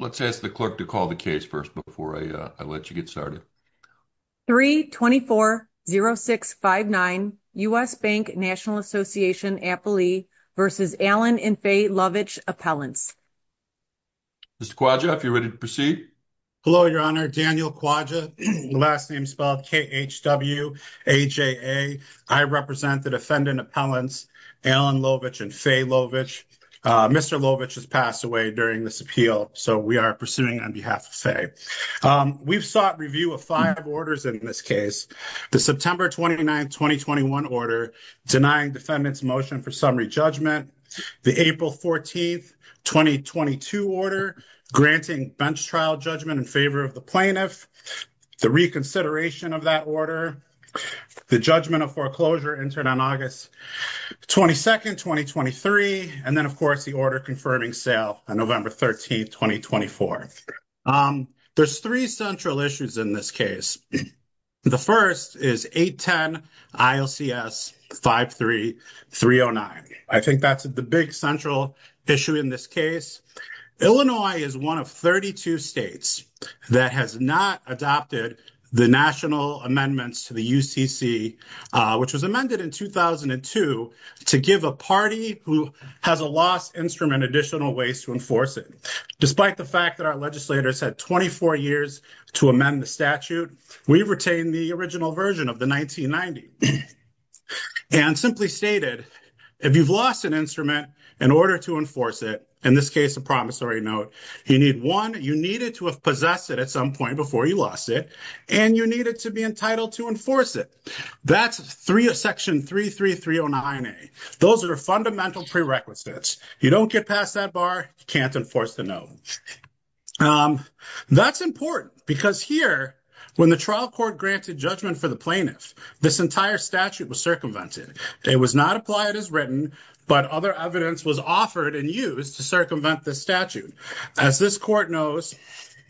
Let's ask the clerk to call the case first before I let you get started. 3-24-06-59 U.S. Bank, National Ass'n v. Allen and Faye Lovitsch Appellants Mr. Kwaja, if you're ready to proceed. Hello, Your Honor. Daniel Kwaja, last name spelled K-H-W-A-J-A. I represent the defendant appellants Allen Lovitsch and Faye Lovitsch. Mr. Lovitsch has passed away during this appeal, so we are pursuing on behalf of Faye. We've sought review of five orders in this case. The September 29, 2021 order denying defendant's motion for summary judgment. The April 14, 2022 order granting bench trial judgment in favor of the plaintiff. The reconsideration of that order. The judgment of foreclosure entered on August 22, 2023. And then, of course, the order confirming sale on November 13, 2024. There's three central issues in this case. The first is 810 ILCS 53309. I think that's the big central issue in this case. Illinois is one of 32 states that has not adopted the national amendments to the UCC, which was amended in 2002 to give a party who has a lost instrument additional ways to enforce it. Despite the fact that our legislators had 24 years to amend the statute, we've retained the original version of the 1990. And simply stated, if you've lost an instrument in order to enforce it, in this case, a promissory note, you need one. You needed to have possessed it at some point before you lost it. And you needed to be entitled to enforce it. That's section 33309A. Those are fundamental prerequisites. You don't get past that bar, you can't enforce the note. That's important because here, when the trial court granted judgment for the plaintiff, this entire statute was circumvented. It was not applied as written, but other evidence was offered and used to circumvent the statute. As this court knows...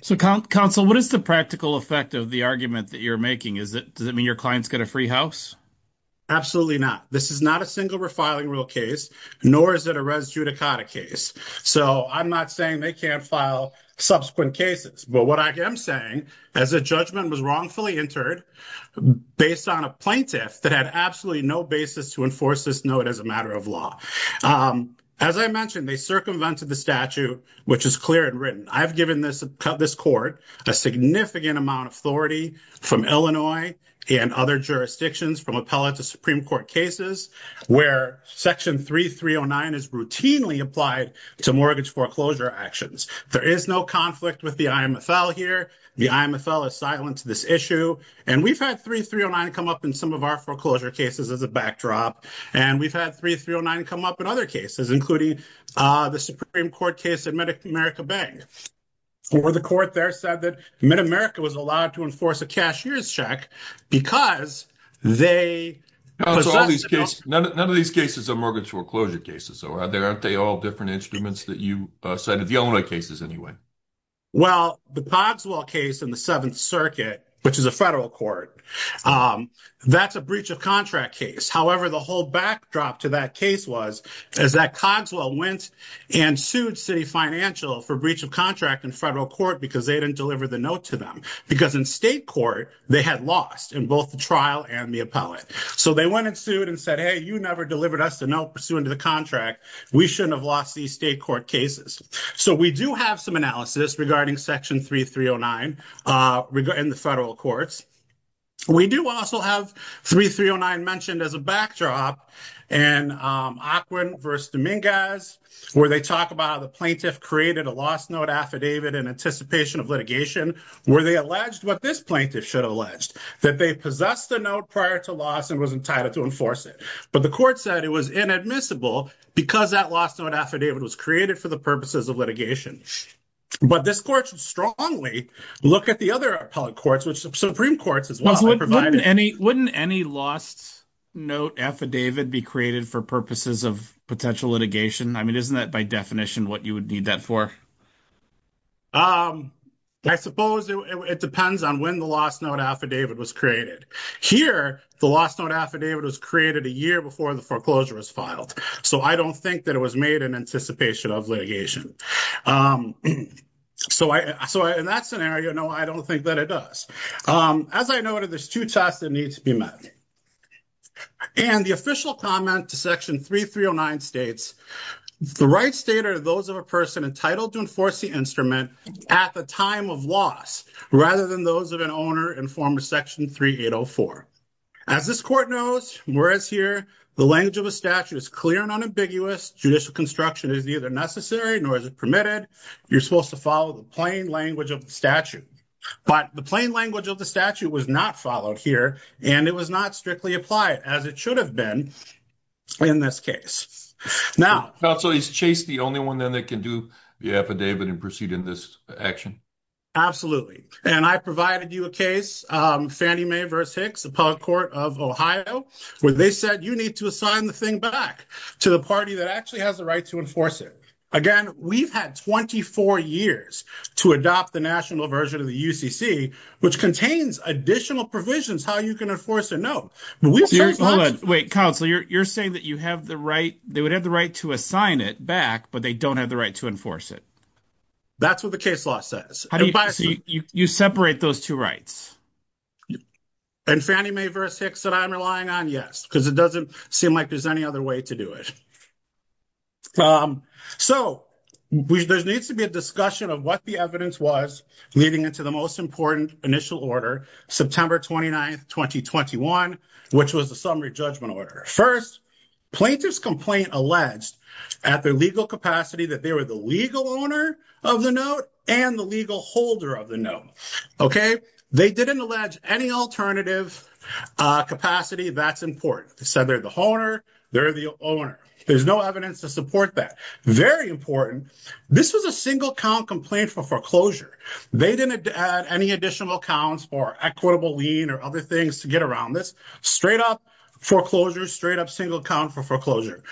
So counsel, what is the practical effect of the argument that you're making? Does it mean your clients get a free house? Absolutely not. This is not a single refiling rule case, nor is it a res judicata case. So I'm not saying they can't file subsequent cases. But what I am saying, as a judgment was wrongfully entered based on a plaintiff that had absolutely no basis to enforce this note as a matter of law. As I mentioned, they circumvented the statute, which is clear and written. I've given this court a significant amount of authority from Illinois and other jurisdictions from appellate to Supreme Court cases, where section 3309 is routinely applied to mortgage foreclosure actions. There is no conflict with the IMFL here. The IMFL has silenced this issue. And we've had 3309 come up in some of our foreclosure cases as a backdrop. And we've had 3309 come up in other cases, including the Supreme Court case in Mid-America Bank, where the court there said that Mid-America was allowed to enforce a cashier's check because they possessed a note... None of these cases are mortgage foreclosure cases, so aren't they all different instruments that you cited? The Illinois cases, anyway. Well, the Pogswell case in the Seventh Circuit, which is a federal court, that's a breach of contract case. However, the whole backdrop to that case was is that Pogswell went and sued City Financial for breach of contract in federal court because they didn't deliver the note to them. Because in state court, they had lost in both the trial and the appellate. So they went and sued and said, hey, you never delivered us the note pursuant to the contract. We shouldn't have lost these state court cases. So we do have some analysis regarding section 3309 in the federal courts. We do also have 3309 mentioned as a backdrop in Aquin v. Dominguez, where they talk about how the plaintiff created a lost note affidavit in anticipation of litigation, where they alleged what this plaintiff should have alleged, that they possessed the note prior to loss and was entitled to enforce it. But the court said it was inadmissible because that lost note affidavit was created for the purposes of litigation. But this court should strongly look at the other appellate courts, which Supreme Courts as well have provided. Wouldn't any lost note affidavit be created for purposes of potential litigation? I mean, isn't that by definition what you would need that for? I suppose it depends on when the lost note affidavit was created. Here, the lost note affidavit was created a year before the foreclosure was filed. So I don't think that it was made in anticipation of litigation. So in that scenario, no, I don't think that it does. As I noted, there's two tests that need to be met. And the official comment to section 3309 states, the right state are those of a person entitled to enforce the instrument at the time of loss, rather than those of an owner in former section 3804. As this court knows, whereas here the language of a statute is clear and unambiguous, judicial construction is neither necessary nor is it permitted. You're supposed to follow the plain language of the statute. But the plain language of the statute was not followed here, and it was not strictly applied as it should have been in this case. Now. Counsel, is Chase the only one then that can do the affidavit and proceed in this action? Absolutely. And I provided you a case, Fannie Mae v. Hicks, the public court of Ohio, where they said, you need to assign the thing back to the party that actually has the right to enforce it. Again, we've had 24 years to adopt the national version of the UCC, which contains additional provisions, how you can enforce it. No. Wait, counsel, you're saying that you have the right, they would have the right to assign it back, but they don't have the right to enforce it. That's what the case law says. You separate those two rights. And Fannie Mae v. Hicks said, I'm relying on, yes, because it doesn't seem like there's any other way to do it. So there needs to be a discussion of what the evidence was leading into the most important initial order, September 29th, 2021, which was the summary judgment order. First, plaintiff's complaint alleged at their legal capacity that they were the legal owner of the note and the legal holder of the note. Okay. They didn't allege any alternative capacity. That's important. They said they're the owner. They're the owner. There's no evidence to support that. Very important. This was a single count complaint for foreclosure. They didn't add any additional accounts for equitable lien or other things to get around this. Straight up foreclosure, straight up single count for foreclosure.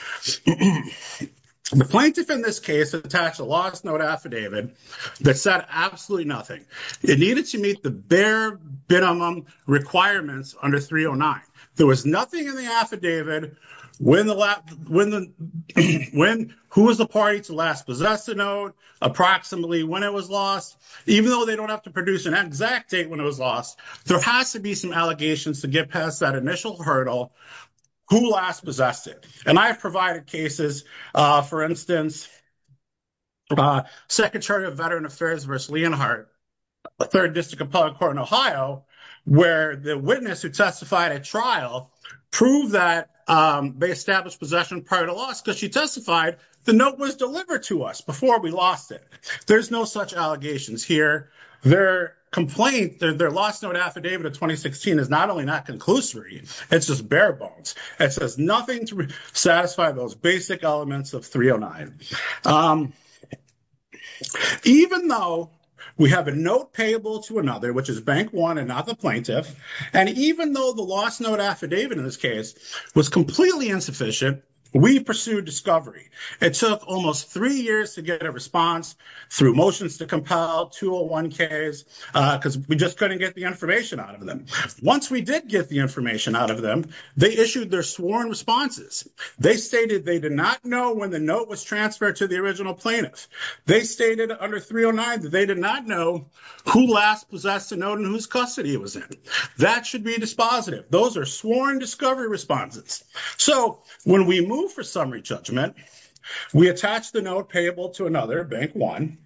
The plaintiff in this case attached a lost note affidavit that said absolutely nothing. It needed to meet the bare minimum requirements under 309. There was nothing in the affidavit who was the party to last possess the note, approximately when it was lost. Even though they don't have to produce an exact date when it was lost, there has to be some allegations to get past that initial hurdle, who last possessed it. And I have provided cases, for instance, Secretary of Veteran Affairs vs. Leonhardt, 3rd District of Public Court in Ohio, where the witness who testified at trial proved that they established possession prior to loss because she testified the note was delivered to us before we lost it. There's no such allegations here. Their complaint, their lost note affidavit of 2016 is not only not conclusory, it's just bare bones. It says nothing to satisfy those basic elements of 309. Even though we have a note payable to another, which is Bank One and not the plaintiff, and even though the lost note affidavit in this case was completely insufficient, we pursued discovery. It took almost three years to get a response through motions to compel, 201Ks, because we just couldn't get the information out of them. Once we did get the information out of them, they issued their sworn responses. They stated they did not know when the note was transferred to the original plaintiff. They stated under 309 that they did not know who last possessed the note and whose custody it was in. That should be dispositive. Those are sworn discovery responses. So when we move for summary judgment, we attach the note payable to another, Bank One.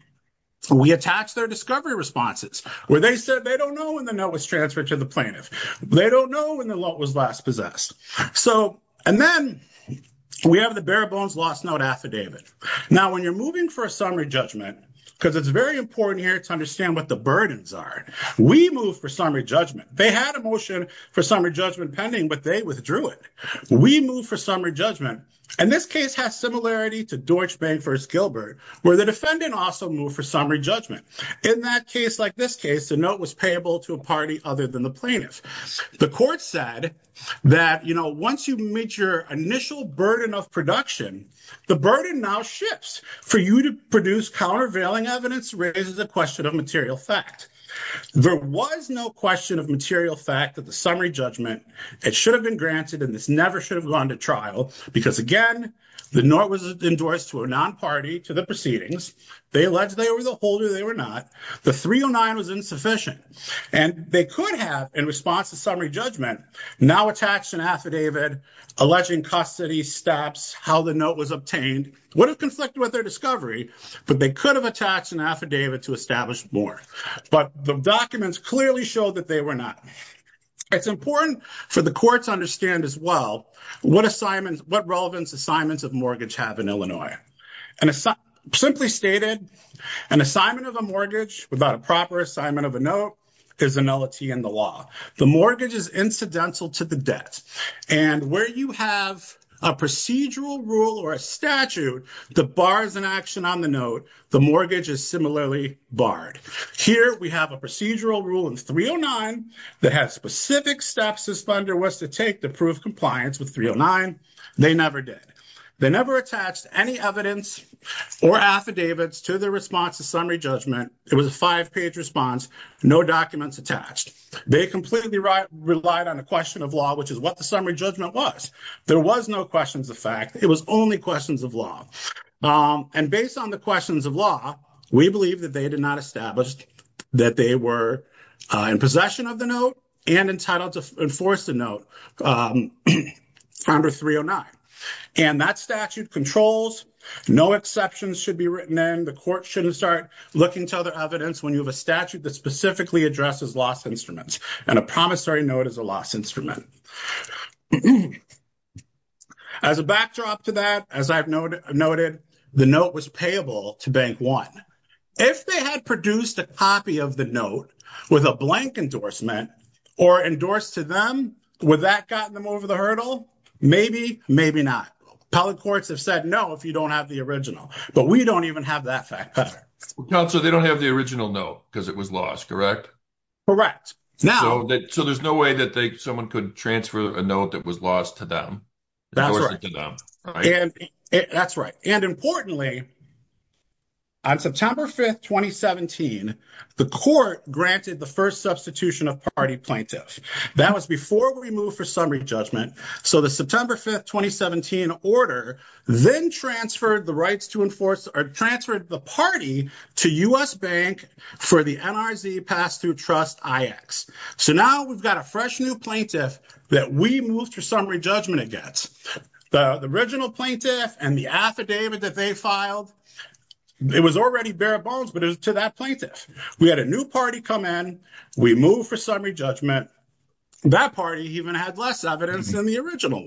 We attach their discovery responses, where they said they don't know when the note was transferred to the plaintiff. They don't know when the note was last possessed. So and then we have the bare bones lost note affidavit. Now, when you're moving for a summary judgment, because it's very important here to understand what the burdens are, we move for summary judgment. They had a motion for summary judgment pending, but they withdrew it. We move for summary judgment, and this case has similarity to Deutsche Bank v. Gilbert, where the defendant also moved for summary judgment. In that case, like this case, the note was payable to a party other than the plaintiff. The court said that, you know, once you meet your initial burden of production, the burden now shifts for you to produce countervailing evidence raises a question of material fact. There was no question of material fact that the summary judgment, it should have been granted, and this never should have gone to trial, because again, the note was endorsed to a non-party to the proceedings. They alleged they were the holder. They were not. The 309 was insufficient, and they could have, in response to summary judgment, now attached an affidavit alleging custody, steps, how the note was obtained, would have conflicted with their discovery, but they could have attached an affidavit to establish more. But the documents clearly showed that they were not. It's important for the courts to understand as well what assignments, what relevance assignments of mortgage have in Illinois. And it's simply stated, an assignment of a mortgage without a proper assignment of a note is a nullity in the law. The mortgage is incidental to the debt. And where you have a procedural rule or a statute that bars an action on the note, the mortgage is similarly barred. Here, we have a procedural rule in 309 that has specific steps this funder was to take to prove compliance with 309. They never did. They never attached any evidence or affidavits to their response to summary judgment. It was a five-page response, no documents attached. They completely relied on a question of law, which is what the summary judgment was. There was no questions of fact. It was only questions of law. And based on the questions of law, we believe that they did not establish that they were in possession of the note and entitled to enforce the note under 309. And that statute controls. No exceptions should be written in. The court shouldn't start looking to other evidence when you have a statute that specifically addresses loss instruments. And a promissory note is a loss instrument. As a backdrop to that, as I've noted, the note was payable to Bank 1. If they had produced a copy of the note with a blank endorsement or endorsed to them, would that gotten them over the hurdle? Maybe, maybe not. Appellate courts have said, no, if you don't have the original, but we don't even have that fact. So they don't have the original note because it was lost, correct? Correct now, so there's no way that someone could transfer a note that was lost to them. That's right and importantly. On September 5th, 2017, the court granted the 1st substitution of party plaintiffs. That was before we move for summary judgment. So, the September 5th, 2017 order, then transferred the rights to enforce or transferred the party to US Bank for the NRZ pass through trust. So now we've got a fresh new plaintiff that we moved for summary judgment against the original plaintiff and the affidavit that they filed. It was already bare bones, but it was to that plaintiff. We had a new party come in. We move for summary judgment. That party even had less evidence than the original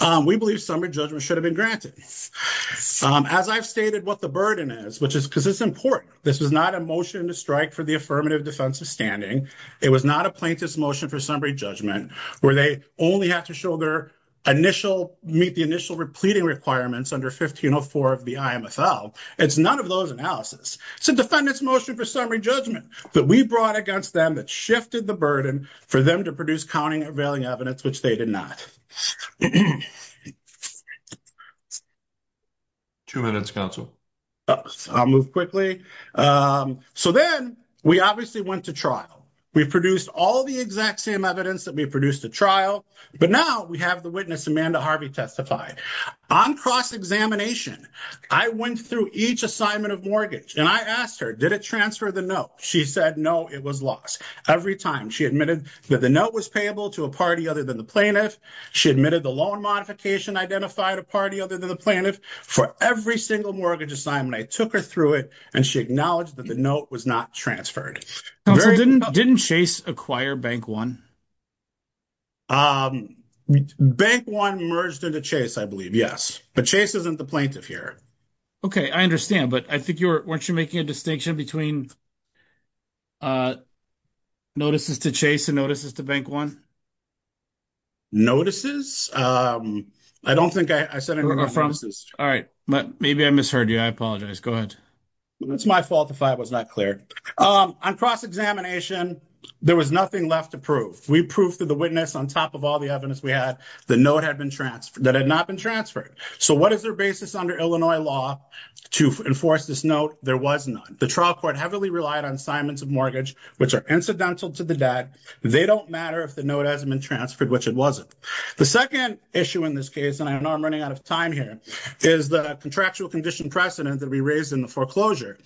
1. we believe summary judgment should have been granted as I've stated what the burden is, which is because it's important. This is not a motion to strike for the affirmative defensive standing. It was not a plaintiff's motion for summary judgment where they only have to show their initial meet the initial repleting requirements under 1504 of the IMFL. It's none of those analysis. It's a defendant's motion for summary judgment that we brought against them that shifted the burden for them to produce counting, availing evidence, which they did not. 2 minutes council, I'll move quickly. So, then we obviously went to trial. We produced all the exact same evidence that we produced a trial, but now we have the witness. Amanda Harvey testified on cross examination. I went through each assignment of mortgage and I asked her, did it transfer the note? She said, no, it was lost every time she admitted that the note was payable to a party other than the plaintiff. She admitted the loan modification, identified a party other than the plaintiff for every single mortgage assignment. I took her through it and she acknowledged that the note was not transferred didn't chase acquire bank. 1. Bank 1 merged into chase, I believe. Yes, but chase isn't the plaintiff here. Okay, I understand, but I think you're, weren't you making a distinction between. Notices to chase and notices to bank 1. Notices I don't think I said, all right, but maybe I misheard you. I apologize. Go ahead. That's my fault if I was not clear on cross examination, there was nothing left to prove. We proved to the witness on top of all the evidence. We had the note had been transferred that had not been transferred. So, what is their basis under Illinois law to enforce this note? There was not the trial court heavily relied on assignments of mortgage, which are incidental to the debt. They don't matter if the note hasn't been transferred, which it wasn't the 2nd issue in this case. And I know I'm running out of time. Here is the contractual condition precedent that we raised in the foreclosure.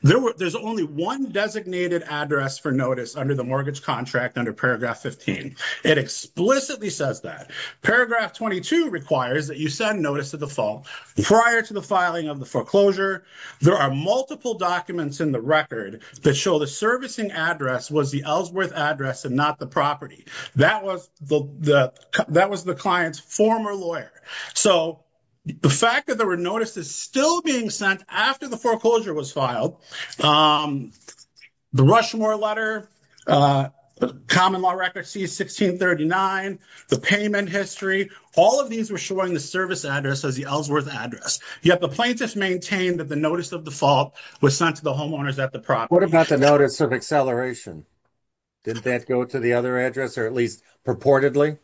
There's only 1 designated address for notice under the mortgage contract under paragraph 15. it explicitly says that paragraph 22 requires that you send notice to the fall prior to the filing of the foreclosure. There are multiple documents in the record that show the servicing address was the Ellsworth address and not the property. That was the client's former lawyer. So, the fact that there were notices still being sent after the foreclosure was filed, the Rushmore letter, common law record C1639, the payment history, all of these were showing the service address as the Ellsworth address. Yet the plaintiffs maintained that the notice of the fault was sent to the homeowners at the property. What about the notice of acceleration? Did that go to the other address, or at least purportedly?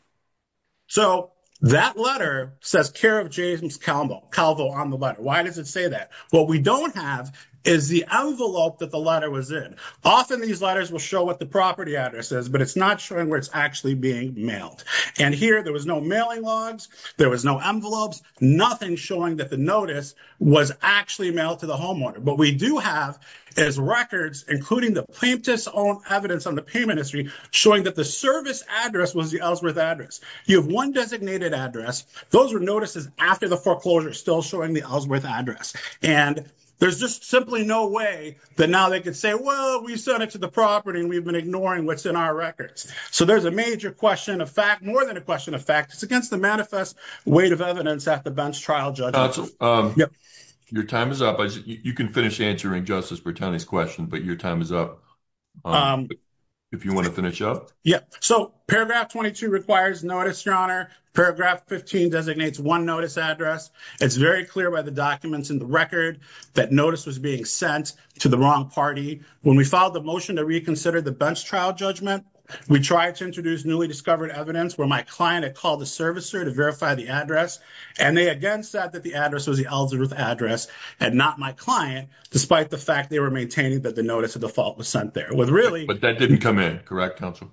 So, that letter says care of James Calvo on the letter. Why does it say that? What we don't have is the envelope that the letter was in. Often, these letters will show what the property address is, but it's not showing where it's actually being mailed. And here, there was no mailing logs. There was no envelopes, nothing showing that the notice was actually mailed to the homeowner. But we do have as records, including the plaintiff's own evidence on the payment history, showing that the service address was the Ellsworth address. You have 1 designated address. Those are notices after the foreclosure still showing the Ellsworth address, and there's just simply no way that now they could say, well, we sent it to the property, and we've been ignoring what's in our records. So, there's a major question of fact, more than a question of fact, it's against the manifest weight of evidence at the bench trial. Judges your time is up. You can finish answering justice. We're telling this question, but your time is up. If you want to finish up, yeah, so paragraph 22 requires notice your honor paragraph 15 designates 1 notice address. It's very clear by the documents in the record that notice was being sent to the wrong party. When we filed the motion to reconsider the bench trial judgment, we tried to introduce newly discovered evidence where my client had called the servicer to verify the address and they again said that the address was the Ellsworth address and not my client, despite the fact they were maintaining that the notice of default was sent there with really, but that didn't come in correct council.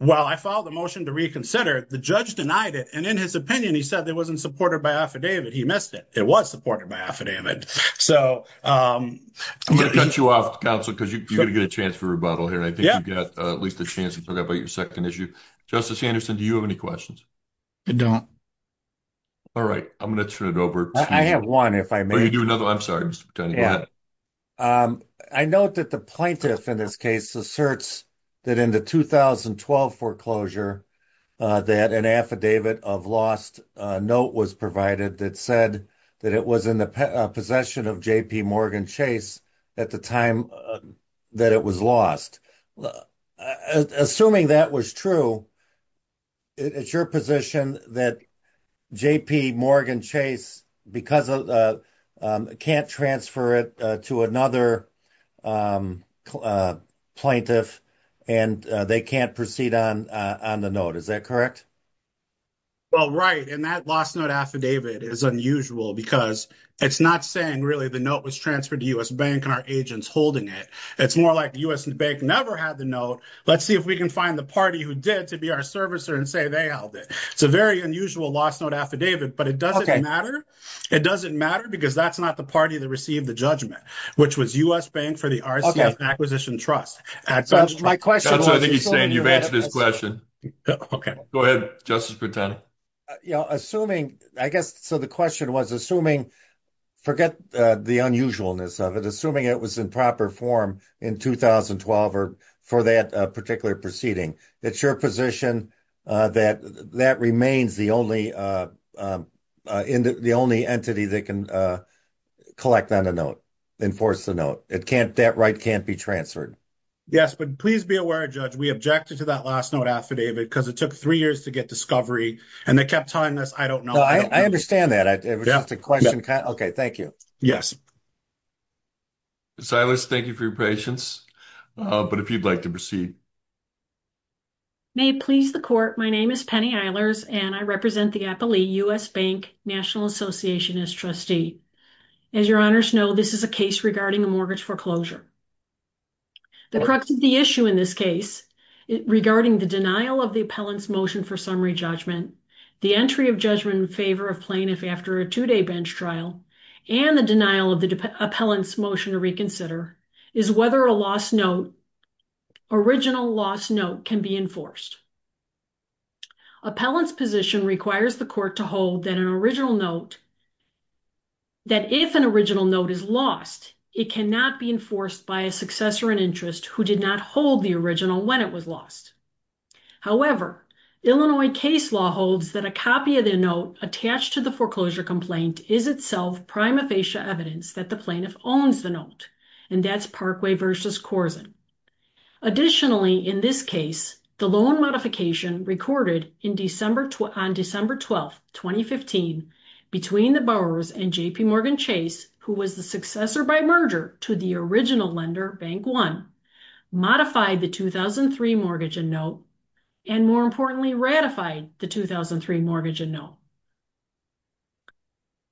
Well, I followed the motion to reconsider the judge denied it and in his opinion, he said there wasn't supported by affidavit. He missed it. It was supported by affidavit. So, I'm going to cut you off council because you're going to get a chance for rebuttal here. I think you've got at least a chance to talk about your 2nd issue. Justice Anderson. Do you have any questions? I don't all right. I'm going to turn it over. I have 1. if I may do another. I'm sorry. Yeah, I know that the plaintiff in this case asserts that in the 2012 foreclosure that an affidavit of lost note was provided that said that it was in the possession of JPMorgan chase at the time that it was lost assuming that was true. It's your position that JPMorgan chase because can't transfer it to another plaintiff and they can't proceed on on the note. Is that correct? Well, right and that last note affidavit is unusual because it's not saying really the note was transferred to us bank and our agents holding it. It's more like the US bank never had the note. Let's see if we can find the party who did to be our servicer and say, they held it. It's a very unusual last note affidavit, but it doesn't matter. It doesn't matter because that's not the party that received the judgment, which was US bank for the acquisition trust. My question, I think he's saying you've answered his question. Okay, go ahead. Justice for 10 assuming, I guess. So the question was assuming. Forget the unusualness of it, assuming it was in proper form in 2012 or for that particular proceeding. It's your position that that remains the only in the only entity that can collect on a note. Enforce the note it can't that right? Can't be transferred. Yes, but please be aware judge we objected to that last note affidavit because it took 3 years to get discovery and they kept telling us. I don't know. I understand that. It was just a question. Okay. Thank you. Yes. Silas, thank you for your patience, but if you'd like to proceed. May please the court. My name is Penny Eilers and I represent the U.S. Bank National Association as trustee. As your honors know, this is a case regarding a mortgage foreclosure. The crux of the issue in this case regarding the denial of the appellant's motion for summary judgment, the entry of judgment in favor of plaintiff after a 2 day bench trial and the denial of the appellant's motion to reconsider is whether a lost note. Original lost note can be enforced. Appellant's position requires the court to hold that an original note. That if an original note is lost, it cannot be enforced by a successor and interest who did not hold the original when it was lost. However, Illinois case law holds that a copy of the note attached to the foreclosure complaint is itself prima facie evidence that the plaintiff owns the note. And that's Parkway versus Korzen. Additionally, in this case, the loan modification recorded on December 12, 2015, between the borrowers and JPMorgan Chase, who was the successor by merger to the original lender, Bank One, modified the 2003 mortgage and note, and more importantly, ratified the 2003 mortgage and note.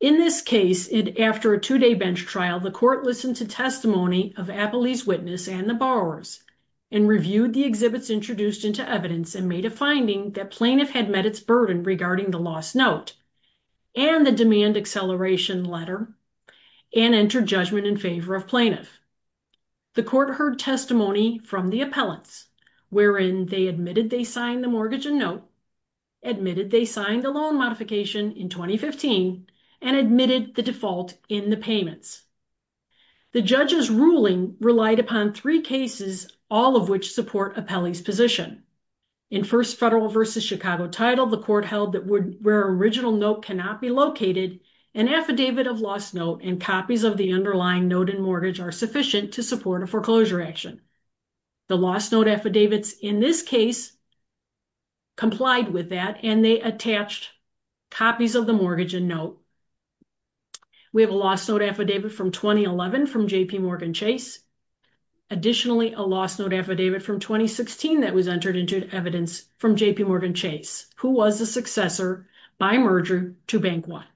In this case, and after a 2 day bench trial, the court listened to testimony of Appley's witness and the borrowers and reviewed the exhibits introduced into evidence and made a finding that plaintiff had met its burden regarding the lost note and the demand acceleration letter and entered judgment in favor of plaintiff. The court heard testimony from the appellants, wherein they admitted they signed the mortgage and note, admitted they signed the loan modification in 2015, and admitted the default in the payments. The judge's ruling relied upon three cases, all of which support Appley's position. In First Federal versus Chicago Title, the court held that where original note cannot be located, an affidavit of lost note and copies of the underlying note and mortgage are sufficient to support a foreclosure action. The lost note affidavits in this case complied with that, and they attached copies of the mortgage and note. We have a lost note affidavit from 2011 from JPMorgan Chase. Additionally, a lost note affidavit from 2016 that was entered into evidence from JPMorgan Chase, who was a successor by merger to Bank Watch.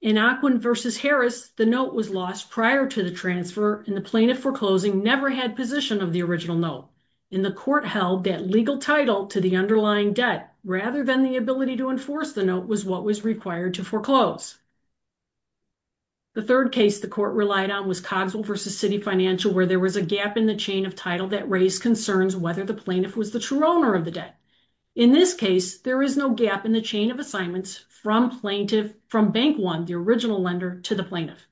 In Ocwen versus Harris, the note was lost prior to the transfer and the plaintiff foreclosing never had position of the original note, and the court held that legal title to the underlying debt rather than the ability to enforce the note was what was required to foreclose. The third case the court relied on was Cogswell versus Citi Financial, where there was a gap in the chain of title that raised concerns whether the plaintiff was the true owner of the debt. In this case, there is no gap in the chain of assignments from Bank One, the original lender, to the plaintiff.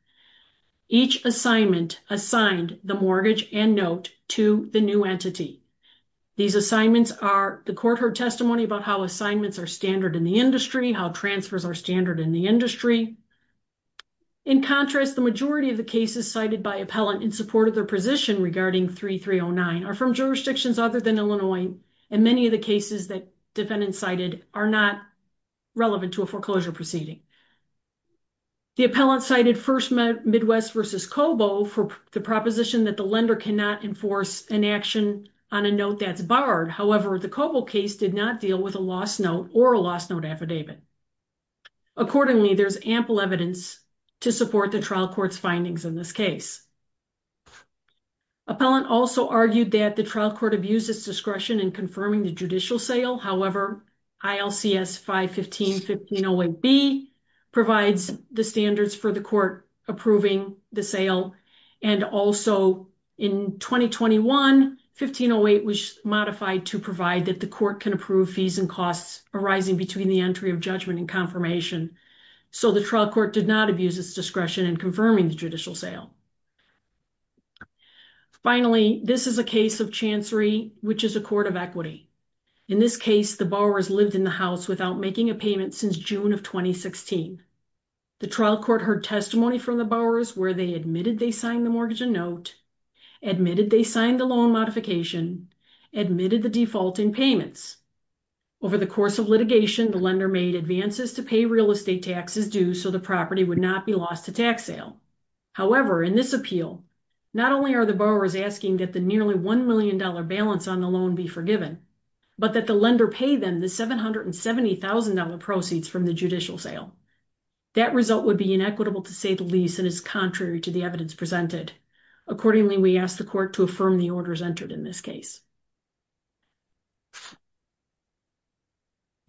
Each assignment assigned the mortgage and note to the new entity. These assignments are the court heard testimony about how assignments are standard in the industry, how transfers are standard in the industry. In contrast, the majority of the cases cited by appellant in support of their position regarding 3309 are from jurisdictions other than Illinois, and many of the cases that defendants cited are not relevant to a foreclosure proceeding. The appellant cited First Midwest versus Cobo for the proposition that the lender cannot enforce an action on a note that's barred. However, the Cobo case did not deal with a lost note or a lost note affidavit. Accordingly, there's ample evidence to support the trial court's findings in this case. Appellant also argued that the trial court abused its discretion in confirming the judicial sale. However, ILCS 515-1508B provides the standards for the court approving the sale, and also in 2021, 1508 was modified to provide that the court can approve fees and costs arising between the entry of judgment and confirmation. So, the trial court did not abuse its discretion in confirming the judicial sale. Finally, this is a case of Chancery, which is a court of equity. In this case, the borrowers lived in the house without making a payment since June of 2016. The trial court heard testimony from the borrowers where they admitted they signed the mortgage and note, admitted they signed the loan modification, admitted the default in payments. Over the course of litigation, the lender made advances to pay real estate taxes due so the property would not be lost to tax sale. However, in this appeal, not only are the borrowers asking that the nearly $1 million balance on the loan be forgiven, but that the lender pay them the $770,000 proceeds from the judicial sale. That result would be inequitable to save the lease and is contrary to the evidence presented. Accordingly, we ask the court to affirm the orders entered in this case.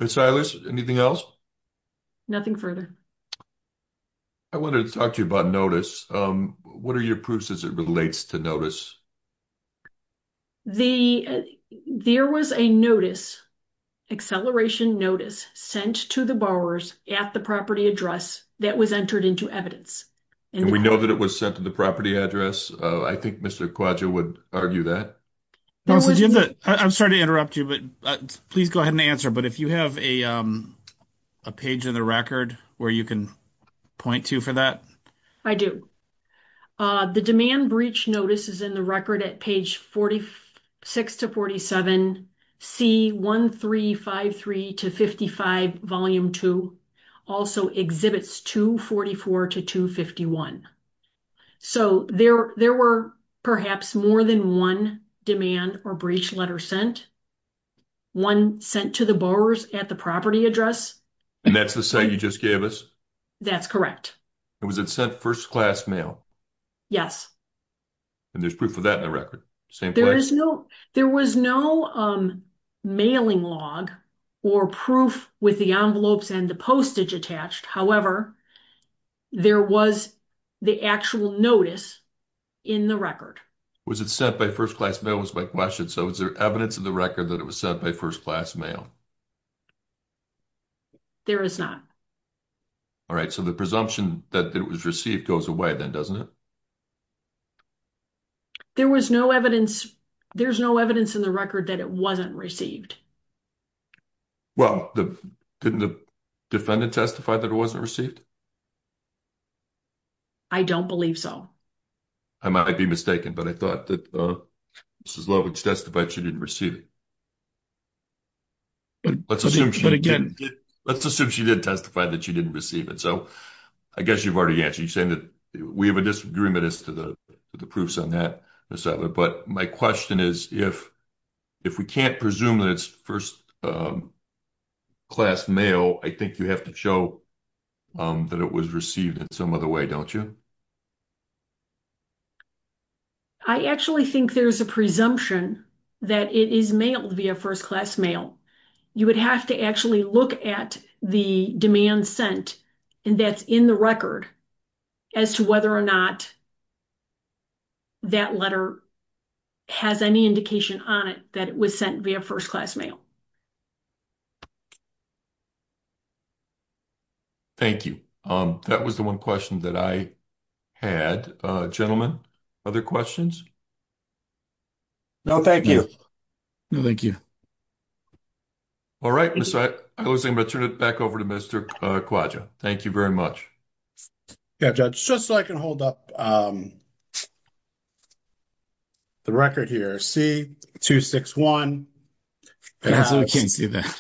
Silas, anything else? Nothing further. I wanted to talk to you about notice. What are your proofs as it relates to notice? There was a notice. Acceleration notice sent to the borrowers at the property address that was entered into evidence. We know that it was sent to the property address. I think Mr. would argue that. I'm sorry to interrupt you, but please go ahead and answer. But if you have a. A page in the record where you can point to for that. I do the demand breach notices in the record at page 46 to 47 C1353 to 55 volume 2 also exhibits 244 to 251. So there, there were perhaps more than 1 demand or breach letter sent. 1 sent to the borrowers at the property address. And that's the same you just gave us. That's correct. It was it sent first class mail. Yes, and there's proof of that in the record. There is no, there was no mailing log or proof with the envelopes and the postage attached. However, there was the actual notice in the record. Was it sent by 1st class mail was my question. So, is there evidence of the record that it was sent by 1st class mail? There is not. All right. So the presumption that it was received goes away then doesn't it? There was no evidence. There's no evidence in the record that it wasn't received. Well, the, didn't the defendant testify that it wasn't received. I don't believe so. I might be mistaken, but I thought that this is love, which testified she didn't receive it. But let's assume she did testify that she didn't receive it. So, I guess you've already answered. You're saying that we have a disagreement as to the proofs on that. But my question is, if we can't presume that it's 1st class mail, I think you have to show that it was received in some other way, don't you? I actually think there's a presumption that it is mailed via 1st class mail. You would have to actually look at the demand sent and that's in the record as to whether or not that letter has any indication on it that it was sent via 1st class mail. Thank you. That was the 1 question that I had. Gentlemen, other questions? No, thank you. No, thank you. All right. I was going to turn it back over to Mr. Quaggia. Thank you very much. Yeah, Judge, just so I can hold up the record here, C-261. We can't see that.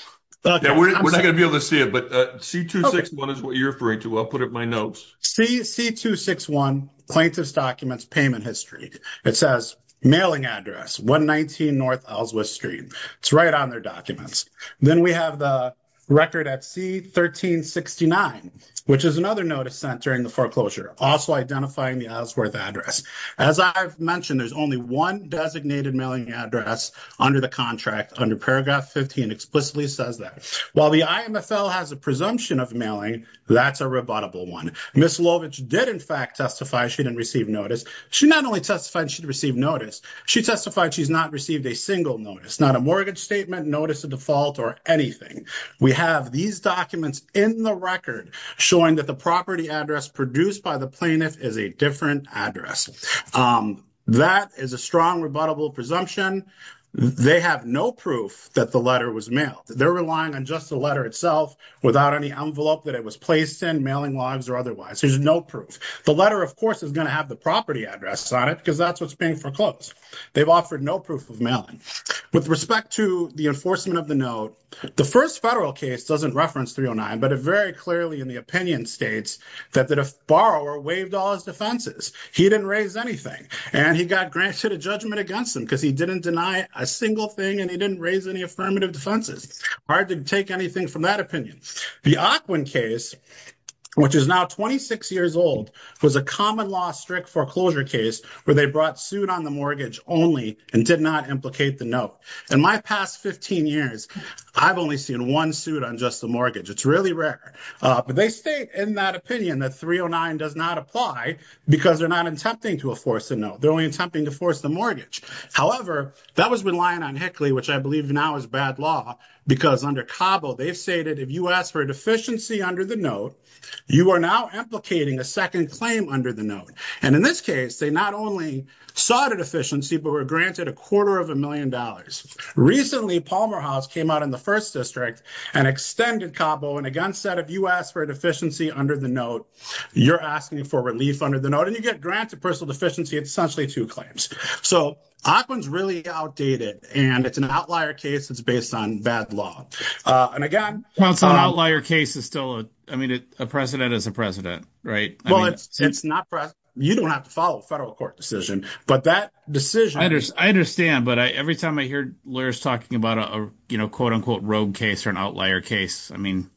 We're not going to be able to see it, but C-261 is what you're referring to. I'll put up my notes. C-261, plaintiff's documents, payment history. It says, mailing address, 119 North Ellsworth Street. It's right on their documents. Then we have the record at C-1369, which is another notice sent during the foreclosure, also identifying the Ellsworth address. As I've mentioned, there's only one designated mailing address under the contract, under paragraph 15 explicitly says that. While the IMFL has a presumption of mailing, that's a rebuttable one. Ms. Lovich did, in fact, testify she didn't receive notice. She not only testified she'd notice, she testified she's not received a single notice, not a mortgage statement, notice of default, or anything. We have these documents in the record showing that the property address produced by the plaintiff is a different address. That is a strong rebuttable presumption. They have no proof that the letter was mailed. They're relying on just the letter itself without any envelope that it was placed in, mailing logs or otherwise. There's no proof. The letter, of course, is going to have the property address on it because that's what's foreclosed. They've offered no proof of mailing. With respect to the enforcement of the note, the first federal case doesn't reference 309, but it very clearly in the opinion states that the borrower waived all his defenses. He didn't raise anything, and he got granted a judgment against him because he didn't deny a single thing, and he didn't raise any affirmative defenses. Hard to take anything from that opinion. The Ockwin case, which is now 26 years old, was a common law strict foreclosure case where they brought suit on the mortgage only and did not implicate the note. In my past 15 years, I've only seen one suit on just the mortgage. It's really rare, but they state in that opinion that 309 does not apply because they're not attempting to enforce the note. They're only attempting to force the mortgage. However, that was relying on Hickley, which I believe now is bad law because under Cabo, they've stated if you ask for a deficiency under the note, you are now implicating a second claim under the note. In this case, they not only sought a deficiency, but were granted a quarter of a million dollars. Recently, Palmer House came out in the first district and extended Cabo, and again, said if you ask for a deficiency under the note, you're asking for relief under the note, and you get granted personal deficiency. It's essentially two claims. Ockwin's really outdated, and it's an outlier case that's based on bad law. And again- Well, it's an outlier case is still, I mean, a precedent is a precedent, right? Well, it's not precedent. You don't have to follow a federal court decision, but that decision- I understand, but every time I hear lawyers talking about a, you know, quote unquote, rogue case or an outlier case, I mean-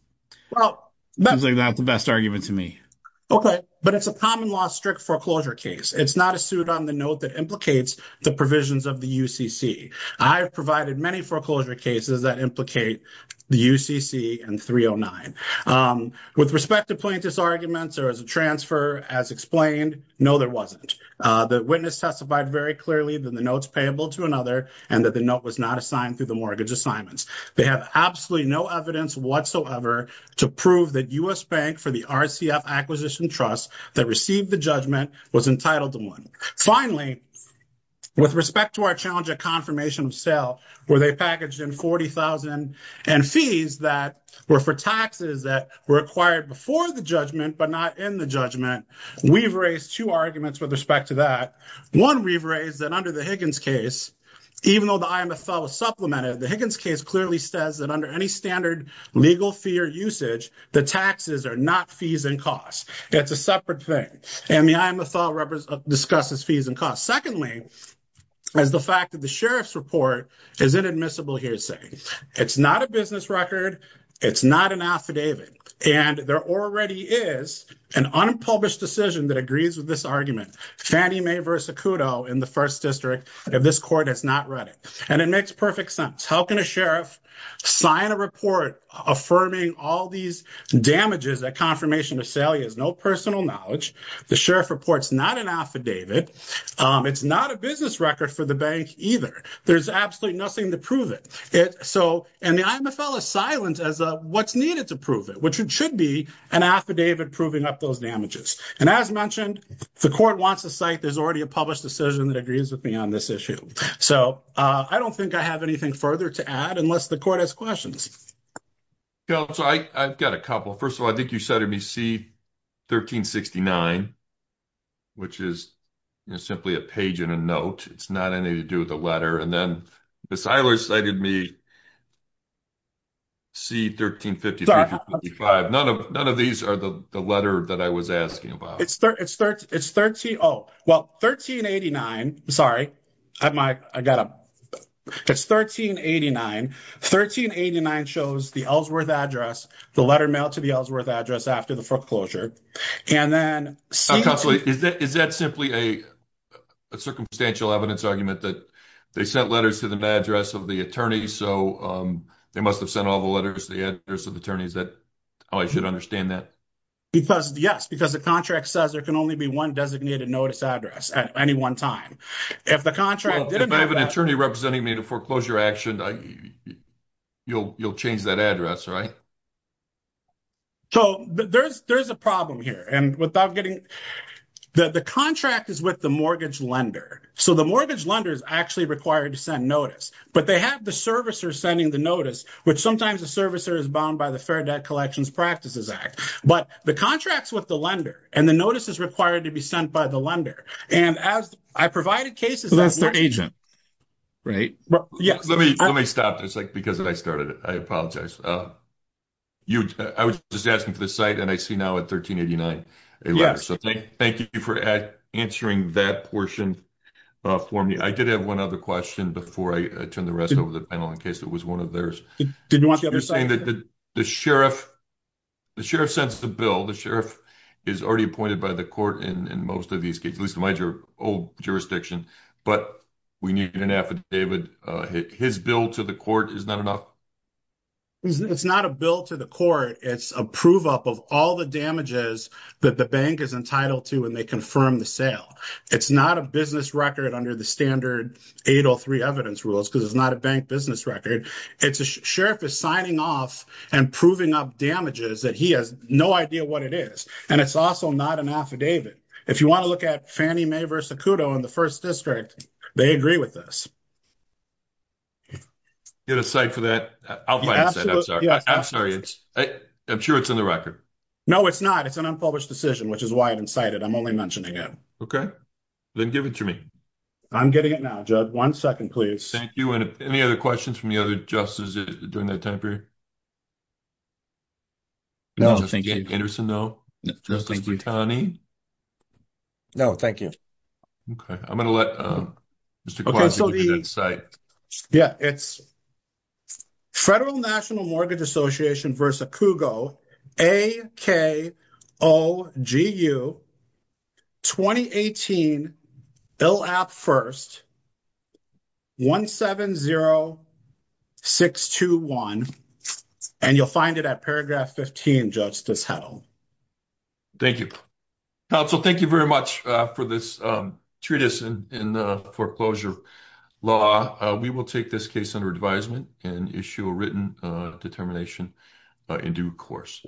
Well- Seems like not the best argument to me. Okay, but it's a common law strict foreclosure case. It's not a suit on the note that implicates the provisions of the UCC. I've provided many foreclosure cases that implicate the UCC and 309. With respect to plaintiff's arguments, there was a transfer as explained. No, there wasn't. The witness testified very clearly that the note's payable to another, and that the note was not assigned through the mortgage assignments. They have absolutely no evidence whatsoever to prove that U.S. Bank for the RCF Acquisition Trust that received the judgment was entitled to one. Finally, with respect to our challenge at confirmation of sale, where they packaged in 40,000 and fees that were for taxes that were acquired before the judgment, but not in the judgment, we've raised two arguments with respect to that. One, we've raised that under the Higgins case, even though the IMFL supplemented, the Higgins case clearly says that under any standard legal fee or usage, the taxes are not fees and costs. It's a separate thing. And the IMFL discusses fees and costs. Secondly, is the fact that the sheriff's report is inadmissible hearsay. It's not a business record. It's not an affidavit. And there already is an unpublished decision that agrees with this argument, Fannie Mae v. Acuto in the First District, if this court has not read it. And it makes perfect sense. How can a sheriff sign a report affirming all these damages at confirmation of sale? He has no personal knowledge. The sheriff reports, not an affidavit. It's not a business record for the bank either. There's absolutely nothing to prove it. And the IMFL is silent as what's needed to prove it, which should be an affidavit proving up those damages. And as mentioned, the court wants to cite, there's already a published decision that agrees with me on this issue. So I don't think I have anything further to add unless the court has questions. So I've got a couple. First of all, I think you cited me C-1369, which is simply a page in a note. It's not anything to do with the letter. And then Ms. Eilers cited me C-1355. None of these are the letter that I was asking about. It's 1389. 1389 shows the Ellsworth address, the letter mailed to the Ellsworth address after the foreclosure. And then- Is that simply a circumstantial evidence argument that they sent letters to the address of the attorney, so they must have sent all the letters to the one designated notice address at any one time. If the contract- Well, if I have an attorney representing me to foreclosure action, you'll change that address, right? So there's a problem here. And without getting- The contract is with the mortgage lender. So the mortgage lender is actually required to send notice. But they have the servicer sending the notice, which sometimes the servicer is bound by Fair Debt Collections Practices Act. But the contract's with the lender, and the notice is required to be sent by the lender. And as I provided cases- Well, that's their agent, right? Let me stop just because I started it. I apologize. I was just asking for the site, and I see now at 1389 a letter. So thank you for answering that portion for me. I did have one other question before I turn the rest over to the panel in case it was one of theirs. Did you want the other side? You're saying that the sheriff sends the bill. The sheriff is already appointed by the court in most of these cases, at least in my old jurisdiction. But we need an affidavit. His bill to the court is not enough? It's not a bill to the court. It's a prove-up of all the damages that the bank is entitled to when they confirm the sale. It's not a business record under the standard 803 evidence rules because it's not a bank business record. It's a sheriff is signing off and proving up damages that he has no idea what it is. And it's also not an affidavit. If you want to look at Fannie Mae versus Kudo in the first district, they agree with this. You have a site for that? I'll find it. I'm sorry. I'm sure it's in the record. No, it's not. It's an unpublished decision, which is why I didn't cite it. I'm only mentioning it. Okay. Then give it to me. I'm getting it now, Judge. One second, please. Thank you. And any other questions from the other justices during that time period? No, thank you. Justice Anderson, no? Justice Boutani? No, thank you. Okay. I'm going to let Mr. Kwasi look at that site. Yeah. It's Federal National Mortgage Association versus Kudo, A-K-O-G-U, 2018, ILAP First, 170621. And you'll find it at paragraph 15, Justice Hedl. Thank you. Counsel, thank you very much for this treatise in foreclosure law. We will take this case under advisement and issue written determination in due course.